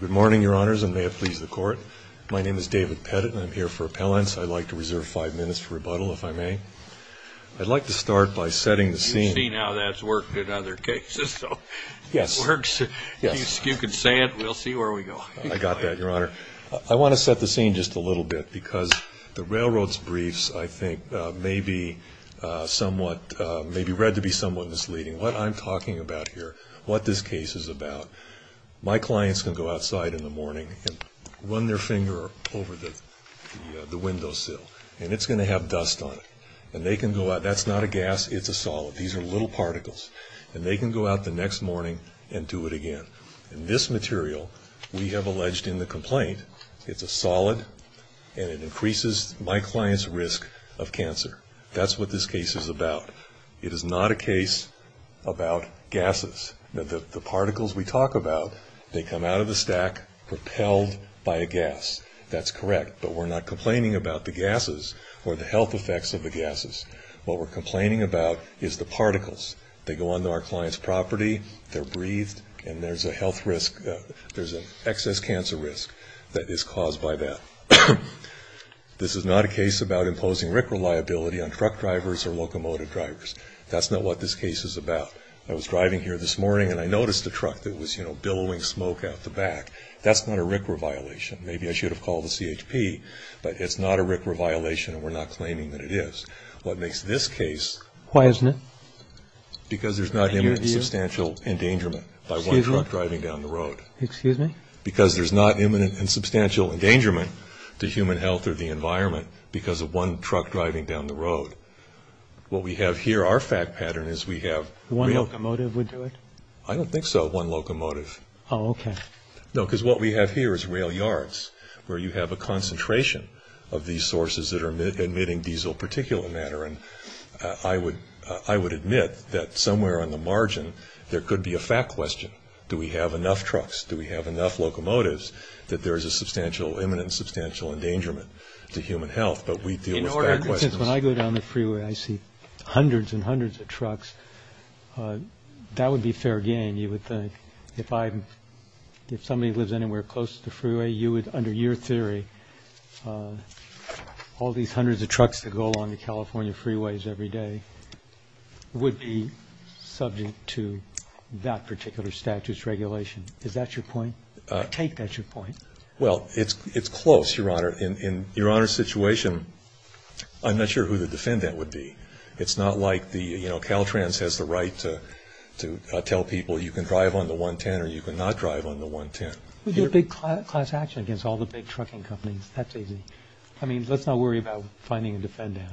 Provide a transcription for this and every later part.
Good morning, Your Honors, and may it please the Court. My name is David Pettit, and I'm here for appellants. I'd like to reserve five minutes for rebuttal, if I may. I'd like to start by setting the scene. You've seen how that's worked in other cases, so it works. Yes. If you can say it, we'll see where we go. I got that, Your Honor. I want to set the scene just a little bit because the Railroad's briefs, I think, may be somewhat, may be read to be somewhat misleading. What I'm talking about here, what this case is about, my clients can go outside in the morning and run their finger over the windowsill, and it's going to have dust on it. And they can go out, that's not a gas, it's a solid. These are little particles. And they can go out the next morning and do it again. And this material, we have alleged in the complaint, it's a solid, and it increases my client's risk of cancer. That's what this case is about. It is not a case about gases. The particles we talk about, they come out of the stack propelled by a gas. That's correct, but we're not complaining about the gases or the health effects of the gases. What we're complaining about is the particles. They go onto our client's property, they're breathed, and there's a health risk, there's an excess cancer risk that is caused by that. This is not a case about imposing RIC reliability on truck drivers or locomotive drivers. That's not what this case is about. I was driving here this morning, and I noticed a truck that was, you know, billowing smoke out the back. That's not a RIC re-violation. Maybe I should have called the CHP, but it's not a RIC re-violation, and we're not claiming that it is. What makes this case... Why isn't it? Because there's not imminent substantial endangerment by one truck driving down the road. Excuse me? Because there's not imminent and substantial endangerment to human health or the environment because of one truck driving down the road. What we have here, our fact pattern, is we have... One locomotive would do it? I don't think so, one locomotive. Oh, okay. No, because what we have here is rail yards where you have a concentration of these sources that are emitting diesel particulate matter, and I would admit that somewhere on the margin there could be a fact question. Do we have enough trucks? Do we have enough locomotives that there is a substantial, imminent and substantial endangerment to human health? But we deal with fact questions. Since when I go down the freeway, I see hundreds and hundreds of trucks, that would be fair game, you would think. If I'm... If somebody lives anywhere close to the freeway, you would... Is that your point? I take that's your point. Well, it's close, Your Honor. In Your Honor's situation, I'm not sure who the defendant would be. It's not like the... You know, Caltrans has the right to tell people you can drive on the 110 or you cannot drive on the 110. We do a big class action against all the big trucking companies. That's easy. I mean, let's not worry about finding a defendant.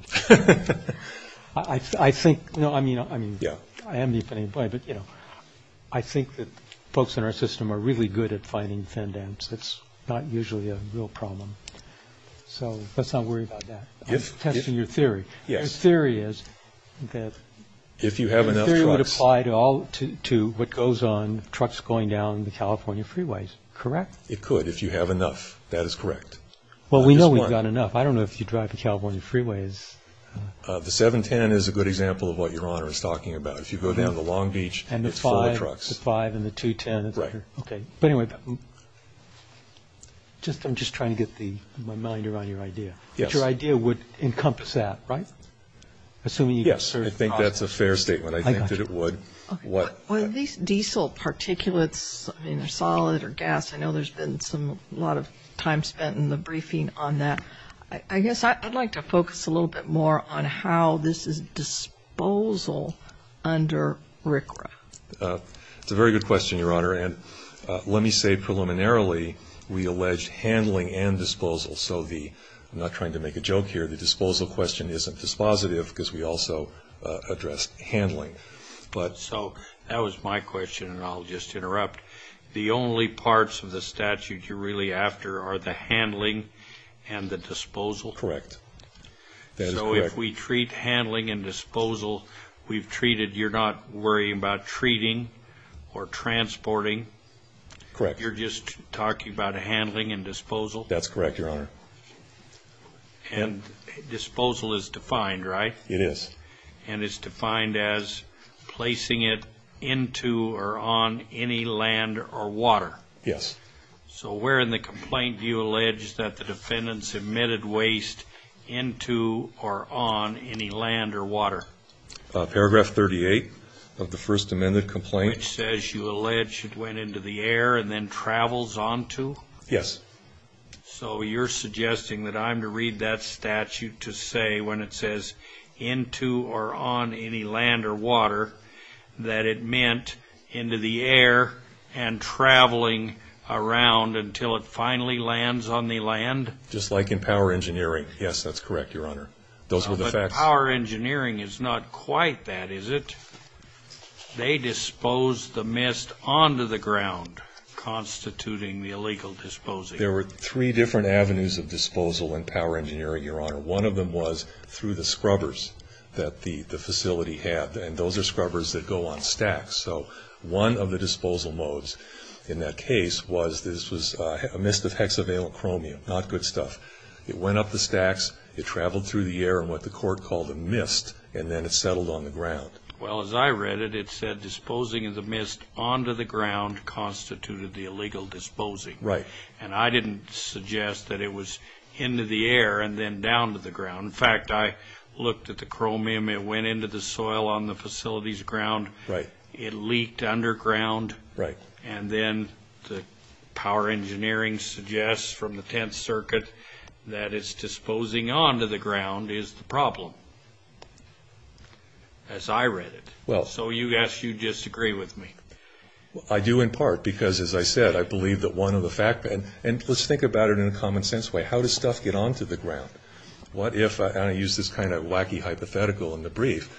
I think... No, I mean... Yeah. I am the defendant, but, you know, I think that folks in our system are really good at finding defendants. It's not usually a real problem. So let's not worry about that. I'm testing your theory. Yes. Your theory is that... If you have enough trucks... Your theory would apply to what goes on, trucks going down the California freeways, correct? It could, if you have enough. That is correct. Well, we know we've got enough. I don't know if you drive the California freeways. The 710 is a good example of what Your Honor is talking about. If you go down the Long Beach, it's full of trucks. And the 5 and the 210. Right. Okay. But, anyway, I'm just trying to get my mind around your idea. Yes. But your idea would encompass that, right? Assuming you can serve... Yes, I think that's a fair statement. I think that it would. I got you. What... Are these diesel particulates, I mean, they're solid or gas? I know there's been a lot of time spent in the briefing on that. I guess I'd like to focus a little bit more on how this is disposal under RCRA. It's a very good question, Your Honor. And let me say preliminarily we alleged handling and disposal. So the... I'm not trying to make a joke here. The disposal question isn't dispositive because we also addressed handling. So that was my question, and I'll just interrupt. The only parts of the statute you're really after are the handling and the disposal. Correct. That is correct. So if we treat handling and disposal, we've treated. You're not worrying about treating or transporting. Correct. You're just talking about handling and disposal. That's correct, Your Honor. And disposal is defined, right? It is. And it's defined as placing it into or on any land or water. Yes. So where in the complaint do you allege that the defendant submitted waste into or on any land or water? Paragraph 38 of the First Amendment complaint. Which says you allege it went into the air and then travels onto? Yes. So you're suggesting that I'm to read that statute to say when it says into or on any land or water that it meant into the air and traveling around until it finally lands on the land? Just like in power engineering. Yes, that's correct, Your Honor. Those were the facts. But power engineering is not quite that, is it? They disposed the mist onto the ground, constituting the illegal disposal. There were three different avenues of disposal in power engineering, Your Honor. One of them was through the scrubbers that the facility had, and those are scrubbers that go on stacks. So one of the disposal modes in that case was this was a mist of hexavalent chromium, not good stuff. It went up the stacks, it traveled through the air in what the court called a mist, and then it settled on the ground. Well, as I read it, it said disposing of the mist onto the ground constituted the illegal disposing. Right. And I didn't suggest that it was into the air and then down to the ground. In fact, I looked at the chromium. It went into the soil on the facility's ground. Right. It leaked underground. Right. And then the power engineering suggests from the Tenth Circuit that it's disposing onto the ground is the problem. As I read it. Well. So you ask you disagree with me. I do in part because, as I said, I believe that one of the fact, and let's think about it in a common sense way. How does stuff get onto the ground? What if, and I use this kind of wacky hypothetical in the brief,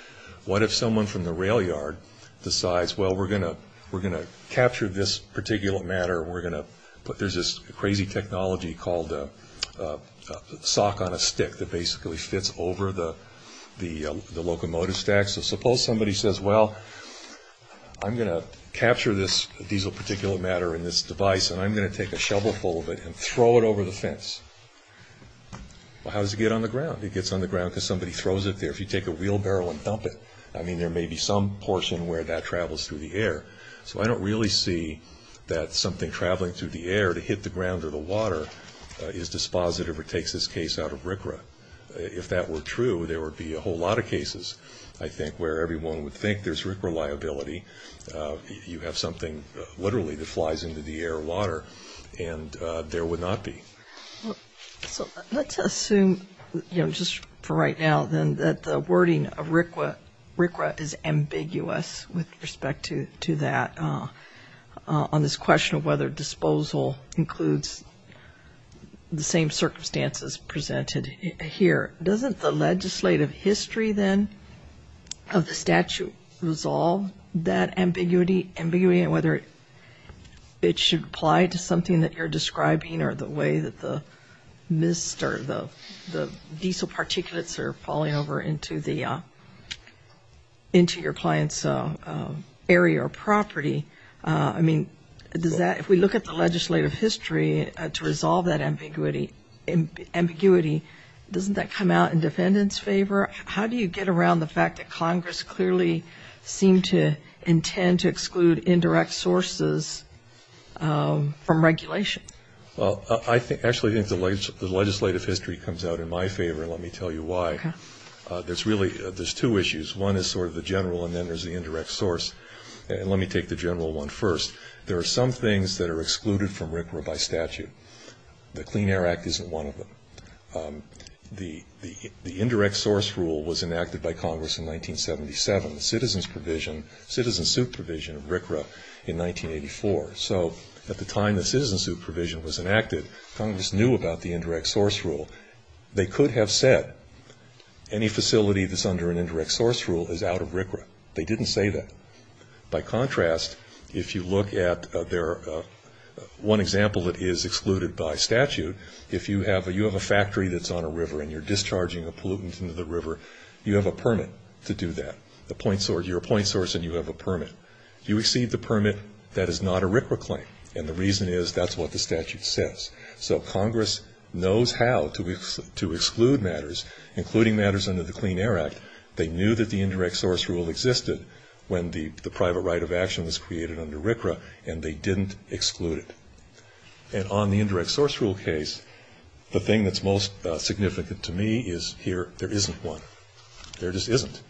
what if someone from the rail yard decides, well, we're going to capture this particular matter and we're going to put, there's this crazy technology called sock on a stick that basically fits over the locomotive stack. So suppose somebody says, well, I'm going to capture this diesel particular matter in this device and I'm going to take a shovel full of it and throw it over the fence. Well, how does it get on the ground? It gets on the ground because somebody throws it there. If you take a wheelbarrow and dump it, I mean, there may be some portion where that travels through the air. So I don't really see that something traveling through the air to hit the ground or the water is dispositive or takes this case out of RCRA. If that were true, there would be a whole lot of cases, I think, where everyone would think there's RCRA liability. You have something literally that flies into the air or water and there would not be. So let's assume just for right now then that the wording of RCRA is ambiguous with respect to that on this question of whether disposal includes the same circumstances presented here. Doesn't the legislative history then of the statute resolve that ambiguity and whether it should apply to something that you're describing or the way that the diesel particulates are falling over into your client's area or property? I mean, if we look at the legislative history to resolve that ambiguity, doesn't that come out in defendant's favor? How do you get around the fact that Congress clearly seemed to intend to exclude indirect sources from regulation? Well, I actually think the legislative history comes out in my favor, and let me tell you why. Okay. There's two issues. One is sort of the general, and then there's the indirect source. And let me take the general one first. There are some things that are excluded from RCRA by statute. The Clean Air Act isn't one of them. The indirect source rule was enacted by Congress in 1977. The citizen's provision, citizen's suit provision of RCRA in 1984. So at the time the citizen's suit provision was enacted, Congress knew about the indirect source rule. They could have said any facility that's under an indirect source rule is out of RCRA. They didn't say that. By contrast, if you look at their one example that is excluded by statute, if you have a factory that's on a river and you're discharging a pollutant into the river, you have a permit to do that. You're a point source and you have a permit. You receive the permit. That is not a RCRA claim, and the reason is that's what the statute says. So Congress knows how to exclude matters, including matters under the Clean Air Act. They knew that the indirect source rule existed when the private right of action was created under RCRA, and they didn't exclude it. And on the indirect source rule case, the thing that's most significant to me is here there isn't one. There just isn't.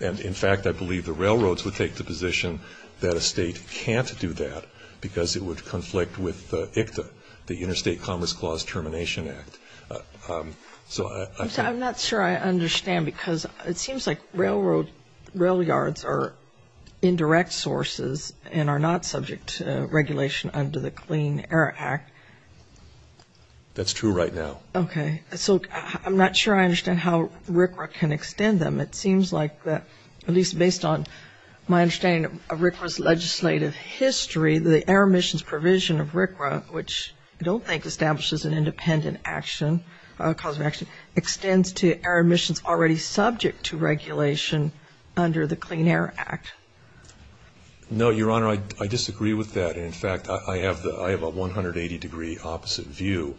And, in fact, I believe the railroads would take the position that a state can't do that because it would conflict with ICTA, the Interstate Commerce Clause Termination Act. I'm not sure I understand because it seems like rail yards are indirect sources and are not subject to regulation under the Clean Air Act. That's true right now. Okay. So I'm not sure I understand how RCRA can extend them. It seems like that, at least based on my understanding of RCRA's legislative history, the air emissions provision of RCRA, which I don't think establishes an independent action, extends to air emissions already subject to regulation under the Clean Air Act. No, Your Honor, I disagree with that. In fact, I have a 180-degree opposite view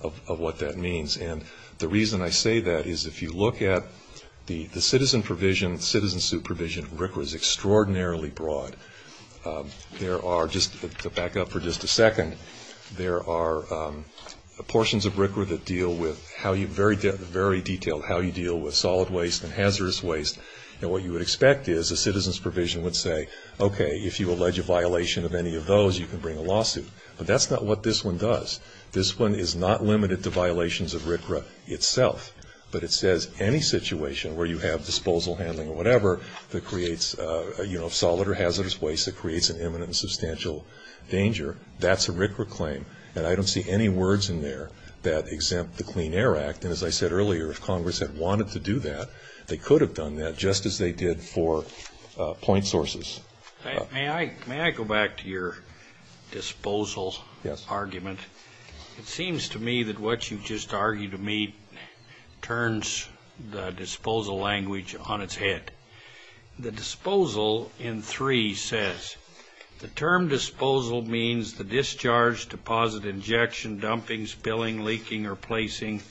of what that means. And the reason I say that is if you look at the citizen provision, the citizen supervision of RCRA is extraordinarily broad. There are, just to back up for just a second, there are portions of RCRA that deal with how you, very detailed, how you deal with solid waste and hazardous waste. And what you would expect is a citizen's provision would say, okay, if you allege a violation of any of those, you can bring a lawsuit. But that's not what this one does. This one is not limited to violations of RCRA itself, but it says any situation where you have disposal handling or whatever that creates, you know, solid or hazardous waste that creates an imminent and substantial danger, that's a RCRA claim. And I don't see any words in there that exempt the Clean Air Act. And as I said earlier, if Congress had wanted to do that, they could have done that. Just as they did for point sources. May I go back to your disposal argument? Yes. It seems to me that what you just argued to me turns the disposal language on its head. The disposal in three says, the term disposal means the discharge, deposit, injection, dumping, spilling, leaking or placing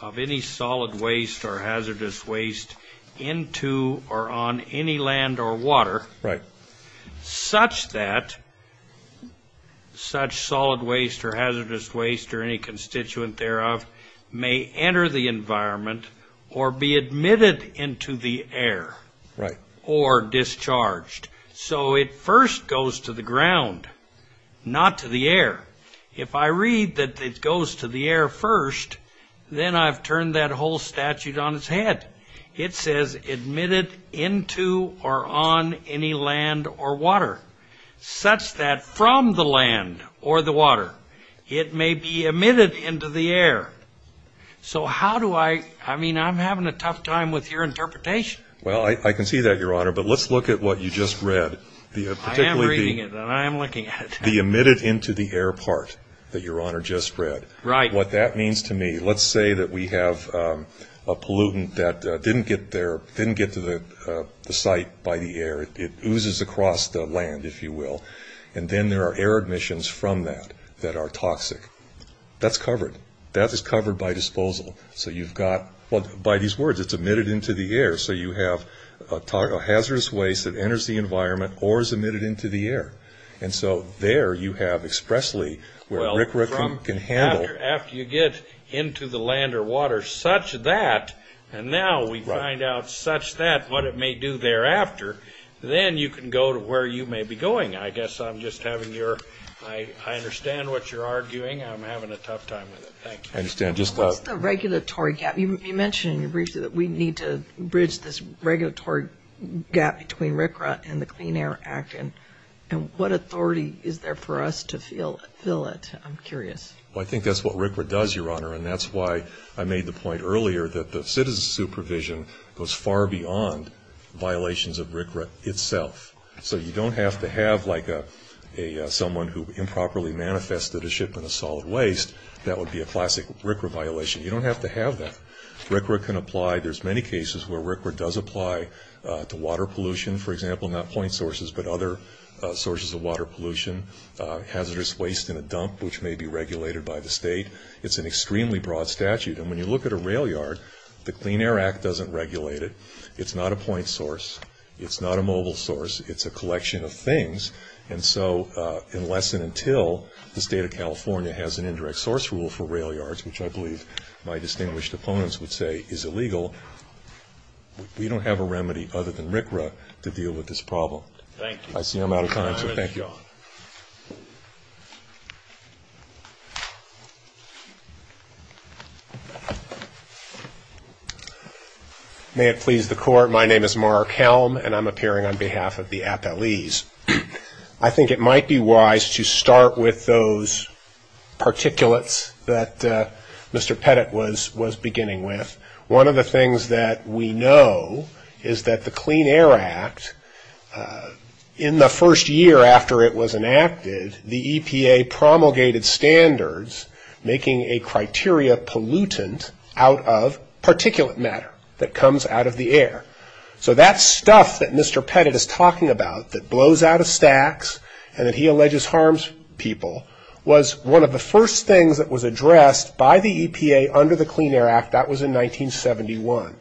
of any solid waste or hazardous waste into or on any land or water. Right. Such that such solid waste or hazardous waste or any constituent thereof may enter the environment or be admitted into the air. Right. Or discharged. So it first goes to the ground, not to the air. If I read that it goes to the air first, then I've turned that whole statute on its head. It says admitted into or on any land or water. Such that from the land or the water, it may be emitted into the air. So how do I, I mean, I'm having a tough time with your interpretation. Well, I can see that, Your Honor. But let's look at what you just read. I am reading it and I am looking at it. The emitted into the air part that Your Honor just read. Right. What that means to me, let's say that we have a pollutant that didn't get there, didn't get to the site by the air. It oozes across the land, if you will. And then there are air admissions from that that are toxic. That's covered. That is covered by disposal. So you've got, by these words, it's emitted into the air. So you have a hazardous waste that enters the environment or is emitted into the air. And so there you have expressly where RCRA can handle. Well, after you get into the land or water such that, and now we find out such that what it may do thereafter, then you can go to where you may be going. I guess I'm just having your, I understand what you're arguing. I'm having a tough time with it. Thank you. I understand. What's the regulatory gap? You mentioned in your brief that we need to bridge this regulatory gap between RCRA and the Clean Air Act, and what authority is there for us to fill it? I'm curious. Well, I think that's what RCRA does, Your Honor, and that's why I made the point earlier that the citizen supervision goes far beyond violations of RCRA itself. So you don't have to have like someone who improperly manifested a shipment of solid waste. That would be a classic RCRA violation. You don't have to have that. RCRA can apply. There's many cases where RCRA does apply to water pollution, for example, not point sources but other sources of water pollution, hazardous waste in a dump, which may be regulated by the state. It's an extremely broad statute. And when you look at a rail yard, the Clean Air Act doesn't regulate it. It's not a point source. It's not a mobile source. It's a collection of things. And so unless and until the State of California has an indirect source rule for rail yards, which I believe my distinguished opponents would say is illegal, we don't have a remedy other than RCRA to deal with this problem. Thank you. I see I'm out of time, so thank you. May it please the Court. My name is Mark Helm, and I'm appearing on behalf of the appellees. I think it might be wise to start with those particulates that Mr. Pettit was beginning with. One of the things that we know is that the Clean Air Act, in the first year after it was enacted, the EPA promulgated standards making a criteria pollutant out of particulate matter that comes out of the air. So that stuff that Mr. Pettit is talking about that blows out of stacks and that he alleges harms people was one of the first things that was addressed by the EPA under the Clean Air Act. That was in 1971.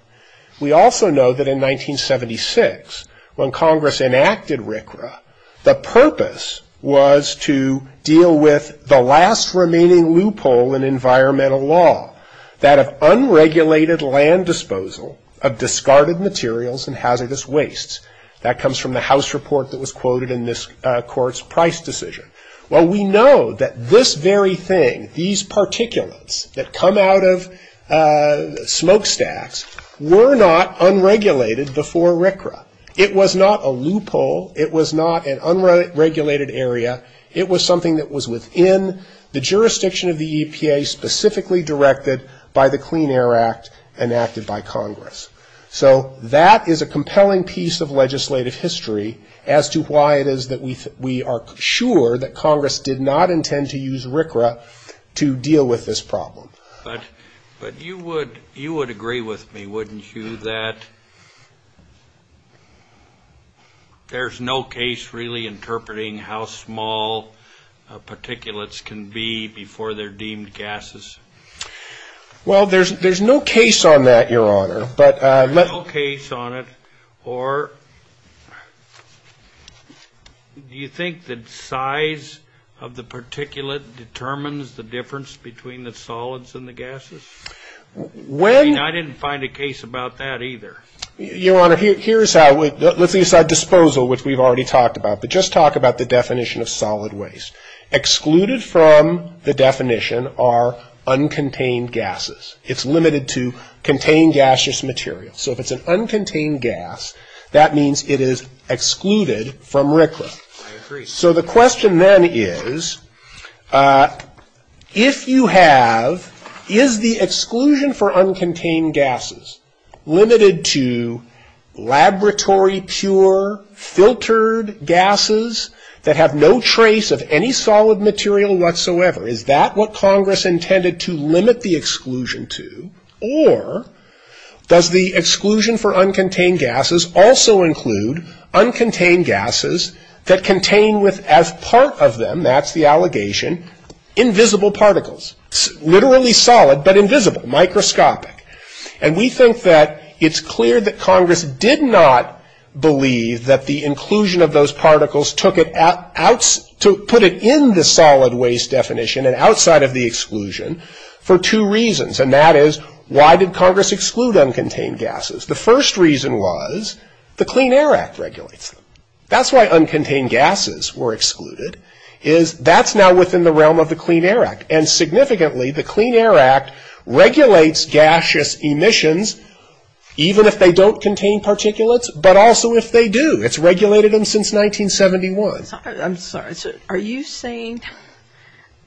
We also know that in 1976, when Congress enacted RCRA, the purpose was to deal with the last remaining loophole in environmental law, that of unregulated land disposal of discarded materials and hazardous wastes. That comes from the House report that was quoted in this Court's price decision. Well, we know that this very thing, these particulates that come out of smokestacks, were not unregulated before RCRA. It was not a loophole. It was not an unregulated area. It was something that was within the jurisdiction of the EPA, specifically directed by the Clean Air Act enacted by Congress. So that is a compelling piece of legislative history as to why it is that we are sure that Congress did not intend to use RCRA to deal with this problem. But you would agree with me, wouldn't you, that there's no case really interpreting how small particulates can be before they're deemed gases? Well, there's no case on that, Your Honor. There's no case on it, or do you think that size of the particulate determines the difference between the solids and the gases? I mean, I didn't find a case about that either. Your Honor, let's leave aside disposal, which we've already talked about, but just talk about the definition of solid waste. Excluded from the definition are uncontained gases. It's limited to contained gaseous materials. So if it's an uncontained gas, that means it is excluded from RCRA. I agree. So the question then is, if you have, is the exclusion for uncontained gases limited to laboratory pure filtered gases that have no trace of any solid material whatsoever? Is that what Congress intended to limit the exclusion to? Or does the exclusion for uncontained gases also include uncontained gases that contain with, as part of them, that's the allegation, invisible particles? Literally solid, but invisible, microscopic. And we think that it's clear that Congress did not believe that the inclusion of those particles took it out, to put it in the solid waste definition and outside of the exclusion for two reasons. And that is, why did Congress exclude uncontained gases? The first reason was the Clean Air Act regulates them. That's why uncontained gases were excluded, is that's now within the realm of the Clean Air Act. And significantly, the Clean Air Act regulates gaseous emissions, even if they don't contain particulates, but also if they do. It's regulated them since 1971. I'm sorry. Are you saying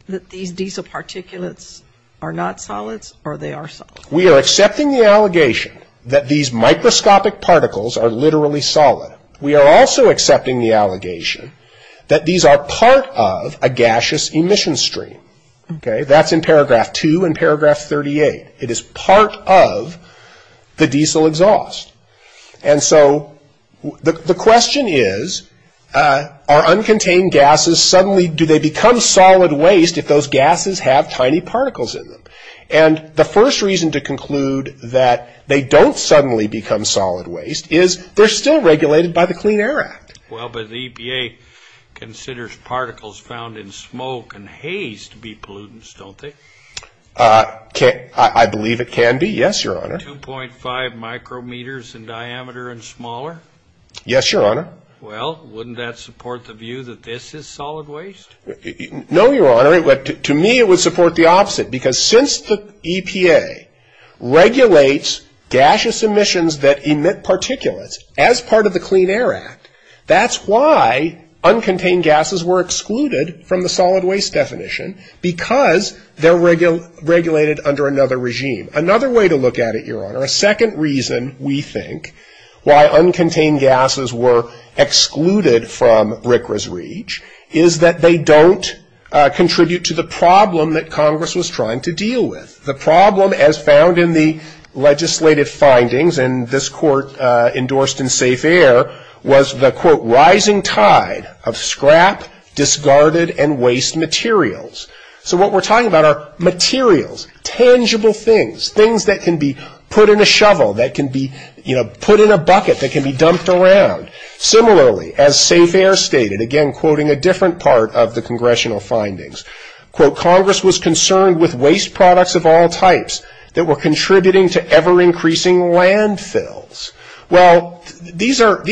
that these diesel particulates are not solids or they are solids? We are accepting the allegation that these microscopic particles are literally solid. We are also accepting the allegation that these are part of a gaseous emission stream. Okay? That's in paragraph two and paragraph 38. It is part of the diesel exhaust. And so the question is, are uncontained gases suddenly, do they become solid waste if those gases have tiny particles in them? And the first reason to conclude that they don't suddenly become solid waste is they're still regulated by the Clean Air Act. Well, but the EPA considers particles found in smoke and haze to be pollutants, don't they? I believe it can be, yes, Your Honor. 2.5 micrometers in diameter and smaller? Yes, Your Honor. Well, wouldn't that support the view that this is solid waste? No, Your Honor. To me, it would support the opposite because since the EPA regulates gaseous emissions that emit particulates as part of the Clean Air Act, that's why uncontained gases were excluded from the solid waste definition because they're regulated under another regime. Another way to look at it, Your Honor, a second reason we think why uncontained gases were excluded from RCRA's reach is that they don't contribute to the problem that Congress was trying to deal with. The problem, as found in the legislative findings, and this court endorsed in Safe Air, was the, quote, rising tide of scrap, discarded, and waste materials. So what we're talking about are materials, tangible things, things that can be put in a shovel, that can be, you know, put in a bucket, that can be dumped around. Similarly, as Safe Air stated, again, quoting a different part of the congressional findings, quote, Congress was concerned with waste products of all types that were contributing to ever-increasing landfills. Well, these are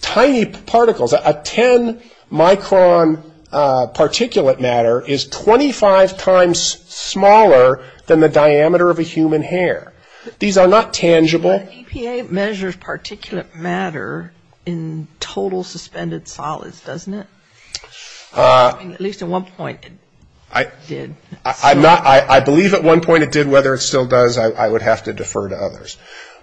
tiny particles. A 10-micron particulate matter is 25 times smaller than the diameter of a human hair. These are not tangible. EPA measures particulate matter in total suspended solids, doesn't it? At least at one point it did. I believe at one point it did. Whether it still does, I would have to defer to others.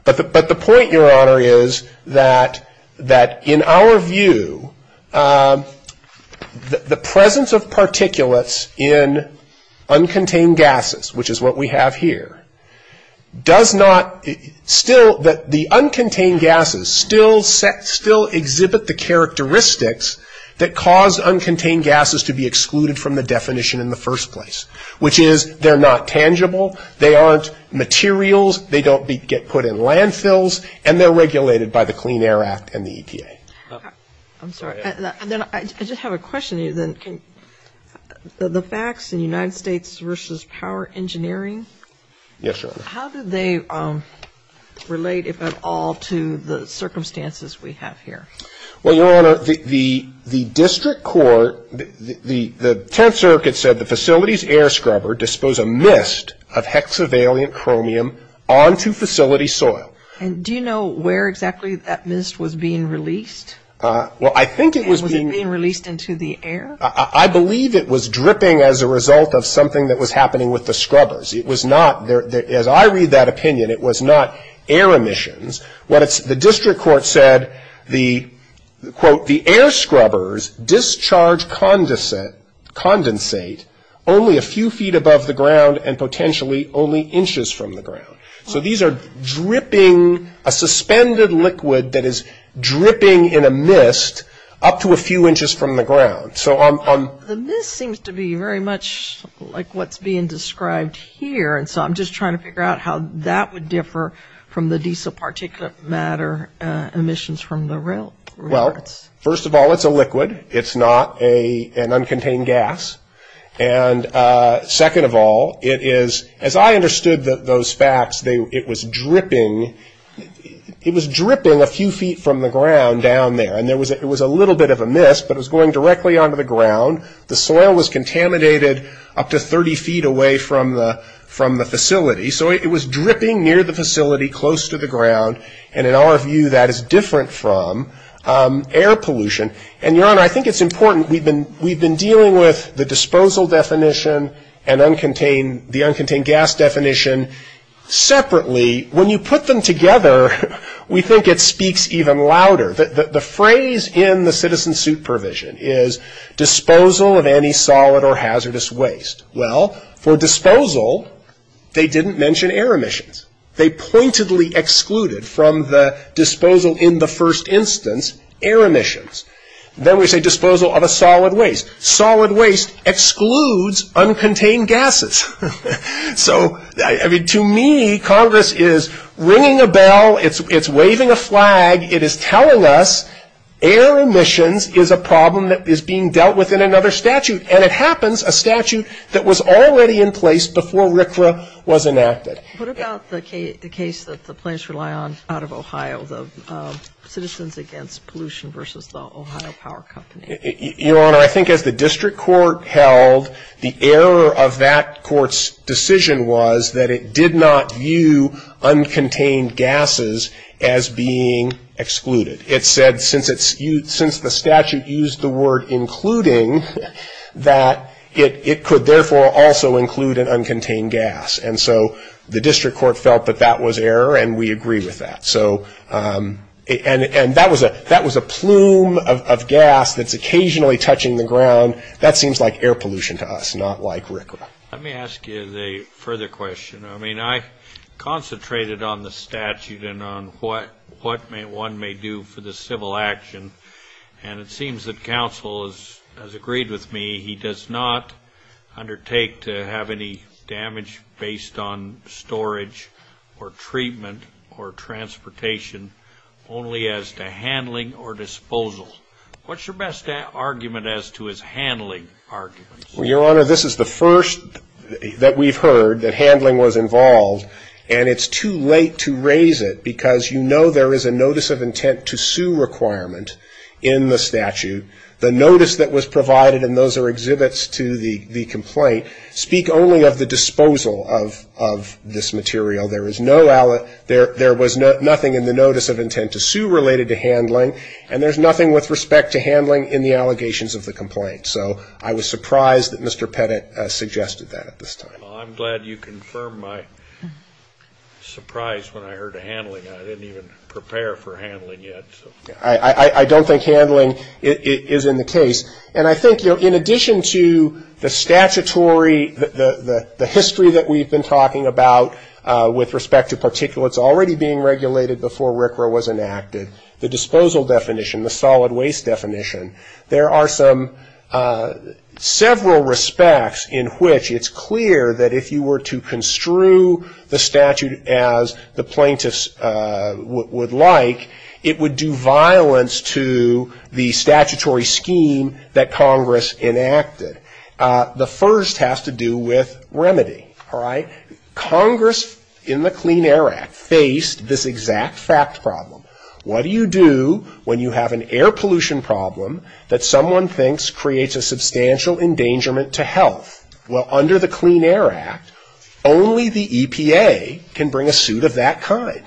But the point, Your Honor, is that in our view, the presence of particulates in uncontained gases, which is what we have here, does not still, that the uncontained gases still exhibit the characteristics that cause uncontained gases to be excluded from the definition in the first place, which is they're not tangible, they aren't materials, they don't get put in landfills, and they're regulated by the Clean Air Act and the EPA. I'm sorry. I just have a question. The facts in United States v. Power Engineering, how do they relate, if at all, to the circumstances we have here? Well, Your Honor, the district court, the Tenth Circuit said the facility's air scrubber disposed a mist of hexavalent chromium onto facility soil. And do you know where exactly that mist was being released? Well, I think it was being released into the air. I believe it was dripping as a result of something that was happening with the scrubbers. It was not, as I read that opinion, it was not air emissions. The district court said, quote, the air scrubbers discharge condensate only a few feet above the ground and potentially only inches from the ground. So these are dripping, a suspended liquid that is dripping in a mist up to a few inches from the ground. The mist seems to be very much like what's being described here, and so I'm just trying to figure out how that would differ from the diesel particulate matter emissions from the rail. Well, first of all, it's a liquid. It's not an uncontained gas. And second of all, it is, as I understood those facts, it was dripping. It was dripping a few feet from the ground down there, and it was a little bit of a mist, but it was going directly onto the ground. The soil was contaminated up to 30 feet away from the facility, so it was dripping near the facility, close to the ground, and in our view, that is different from air pollution. And, Your Honor, I think it's important. We've been dealing with the disposal definition and the uncontained gas definition separately. When you put them together, we think it speaks even louder. The phrase in the citizen suit provision is disposal of any solid or hazardous waste. Well, for disposal, they didn't mention air emissions. They pointedly excluded from the disposal in the first instance air emissions. Then we say disposal of a solid waste. Solid waste excludes uncontained gases. So, I mean, to me, Congress is ringing a bell. It's waving a flag. It is telling us air emissions is a problem that is being dealt with in another statute, and it happens, a statute that was already in place before RCRA was enacted. What about the case that the plaintiffs rely on out of Ohio, the Citizens Against Pollution v. The Ohio Power Company? Your Honor, I think as the district court held, the error of that court's decision was that it did not view uncontained gases as being excluded. It said since the statute used the word including, that it could therefore also include an uncontained gas. And so the district court felt that that was error, and we agree with that. And that was a plume of gas that's occasionally touching the ground. That seems like air pollution to us, not like RCRA. Let me ask you a further question. I mean, I concentrated on the statute and on what one may do for the civil action, and it seems that counsel has agreed with me. He does not undertake to have any damage based on storage or treatment or transportation only as to handling or disposal. What's your best argument as to his handling arguments? Well, Your Honor, this is the first that we've heard that handling was involved, and it's too late to raise it because you know there is a notice of intent to sue requirement in the statute. The notice that was provided, and those are exhibits to the complaint, speak only of the disposal of this material. There is no, there was nothing in the notice of intent to sue related to handling, and there's nothing with respect to handling in the allegations of the complaint. So I was surprised that Mr. Pettit suggested that at this time. Well, I'm glad you confirmed my surprise when I heard handling. I didn't even prepare for handling yet. I don't think handling is in the case. And I think, you know, in addition to the statutory, the history that we've been talking about with respect to particulates already being regulated before RCRA was enacted, the disposal definition, the solid waste definition, there are some, several respects in which it's clear that if you were to construe the statute as the plaintiffs would like, it would do violence to the statutory scheme that Congress enacted. The first has to do with remedy. All right? Congress in the Clean Air Act faced this exact fact problem. What do you do when you have an air pollution problem that someone thinks creates a substantial endangerment to health? Well, under the Clean Air Act, only the EPA can bring a suit of that kind.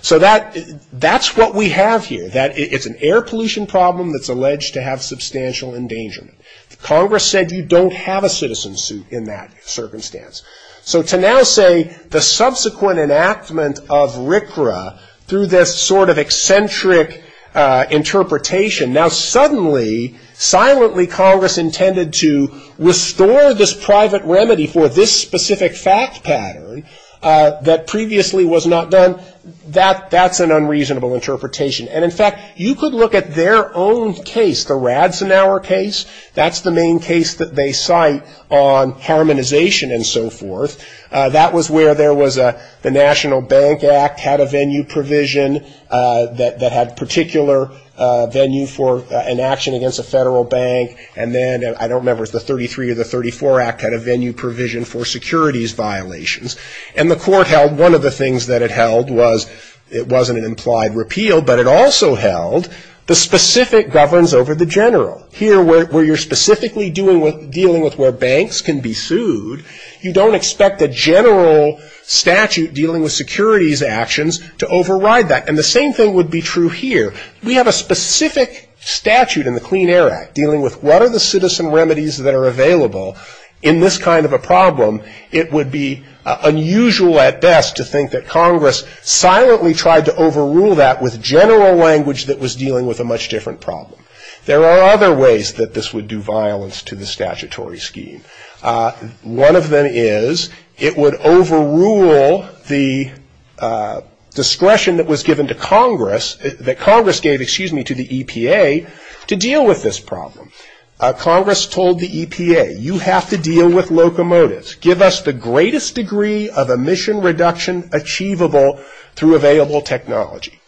So that's what we have here, that it's an air pollution problem that's alleged to have substantial endangerment. Congress said you don't have a citizen suit in that circumstance. So to now say the subsequent enactment of RCRA through this sort of eccentric interpretation, now suddenly, silently, Congress intended to restore this private remedy for this specific fact pattern that previously was not done, that's an unreasonable interpretation. And, in fact, you could look at their own case, the Radzenauer case. That's the main case that they cite on harmonization and so forth. That was where there was the National Bank Act had a venue provision that had particular venue for an action against a federal bank, and then I don't remember if it was the 33 or the 34 Act had a venue provision for securities violations. And the court held one of the things that it held was it wasn't an implied repeal, but it also held the specific governance over the general. Here, where you're specifically dealing with where banks can be sued, you don't expect a general statute dealing with securities actions to override that. And the same thing would be true here. We have a specific statute in the Clean Air Act dealing with what are the citizen remedies that are available in this kind of a problem. It would be unusual at best to think that Congress silently tried to overrule that with general language that was dealing with a much different problem. There are other ways that this would do violence to the statutory scheme. One of them is it would overrule the discretion that was given to Congress, that Congress gave, excuse me, to the EPA to deal with this problem. Congress told the EPA, you have to deal with locomotives. Give us the greatest degree of emission reduction achievable through available technology.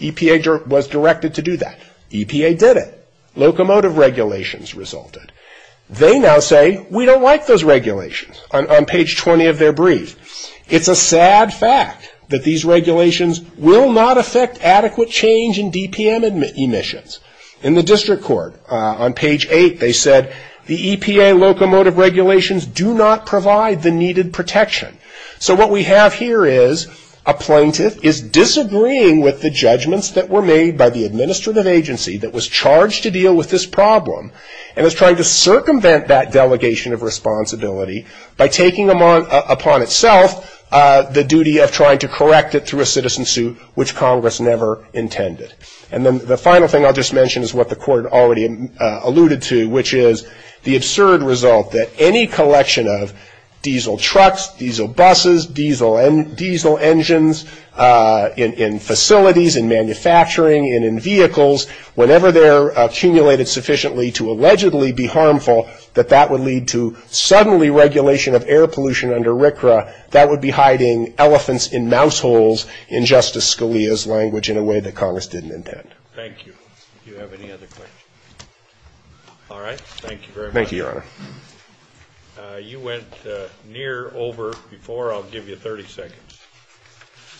EPA was directed to do that. EPA did it. Locomotive regulations resulted. They now say, we don't like those regulations, on page 20 of their brief. It's a sad fact that these regulations will not affect adequate change in DPM emissions. In the district court, on page 8, they said, the EPA locomotive regulations do not provide the needed protection. So what we have here is a plaintiff is disagreeing with the judgments that were made by the administrative agency that was charged to deal with this problem, and is trying to circumvent that delegation of responsibility by taking upon itself the duty of trying to correct it through a citizen suit, which Congress never intended. And then the final thing I'll just mention is what the court already alluded to, which is the absurd result that any collection of diesel trucks, diesel buses, diesel engines in facilities, in manufacturing and in vehicles, whenever they're accumulated sufficiently to allegedly be harmful, that that would lead to suddenly regulation of air pollution under RCRA. That would be hiding elephants in mouse holes, in Justice Scalia's language, in a way that Congress didn't intend. Thank you. Do you have any other questions? All right. Thank you very much. Thank you, Your Honor. You went near over before. I'll give you 30 seconds.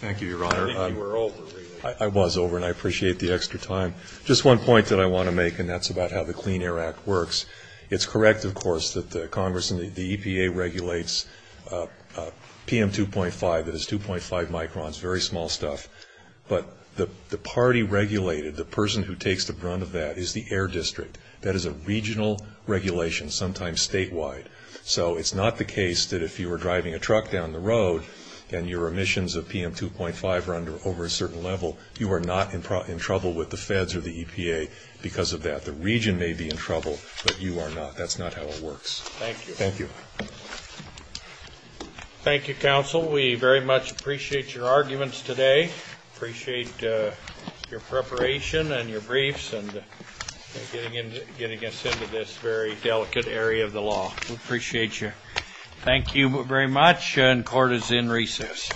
Thank you, Your Honor. I think you were over, really. I was over, and I appreciate the extra time. Just one point that I want to make, and that's about how the Clean Air Act works. It's correct, of course, that Congress and the EPA regulates PM2.5, that is 2.5 microns, very small stuff. But the party regulated, the person who takes the brunt of that, is the Air District. That is a regional regulation, sometimes statewide. So it's not the case that if you were driving a truck down the road and your emissions of PM2.5 are over a certain level, you are not in trouble with the feds or the EPA because of that. The region may be in trouble, but you are not. That's not how it works. Thank you. Thank you. Thank you, counsel. We very much appreciate your arguments today, appreciate your preparation and your briefs, and getting us into this very delicate area of the law. We appreciate you. Thank you very much, and court is in recess.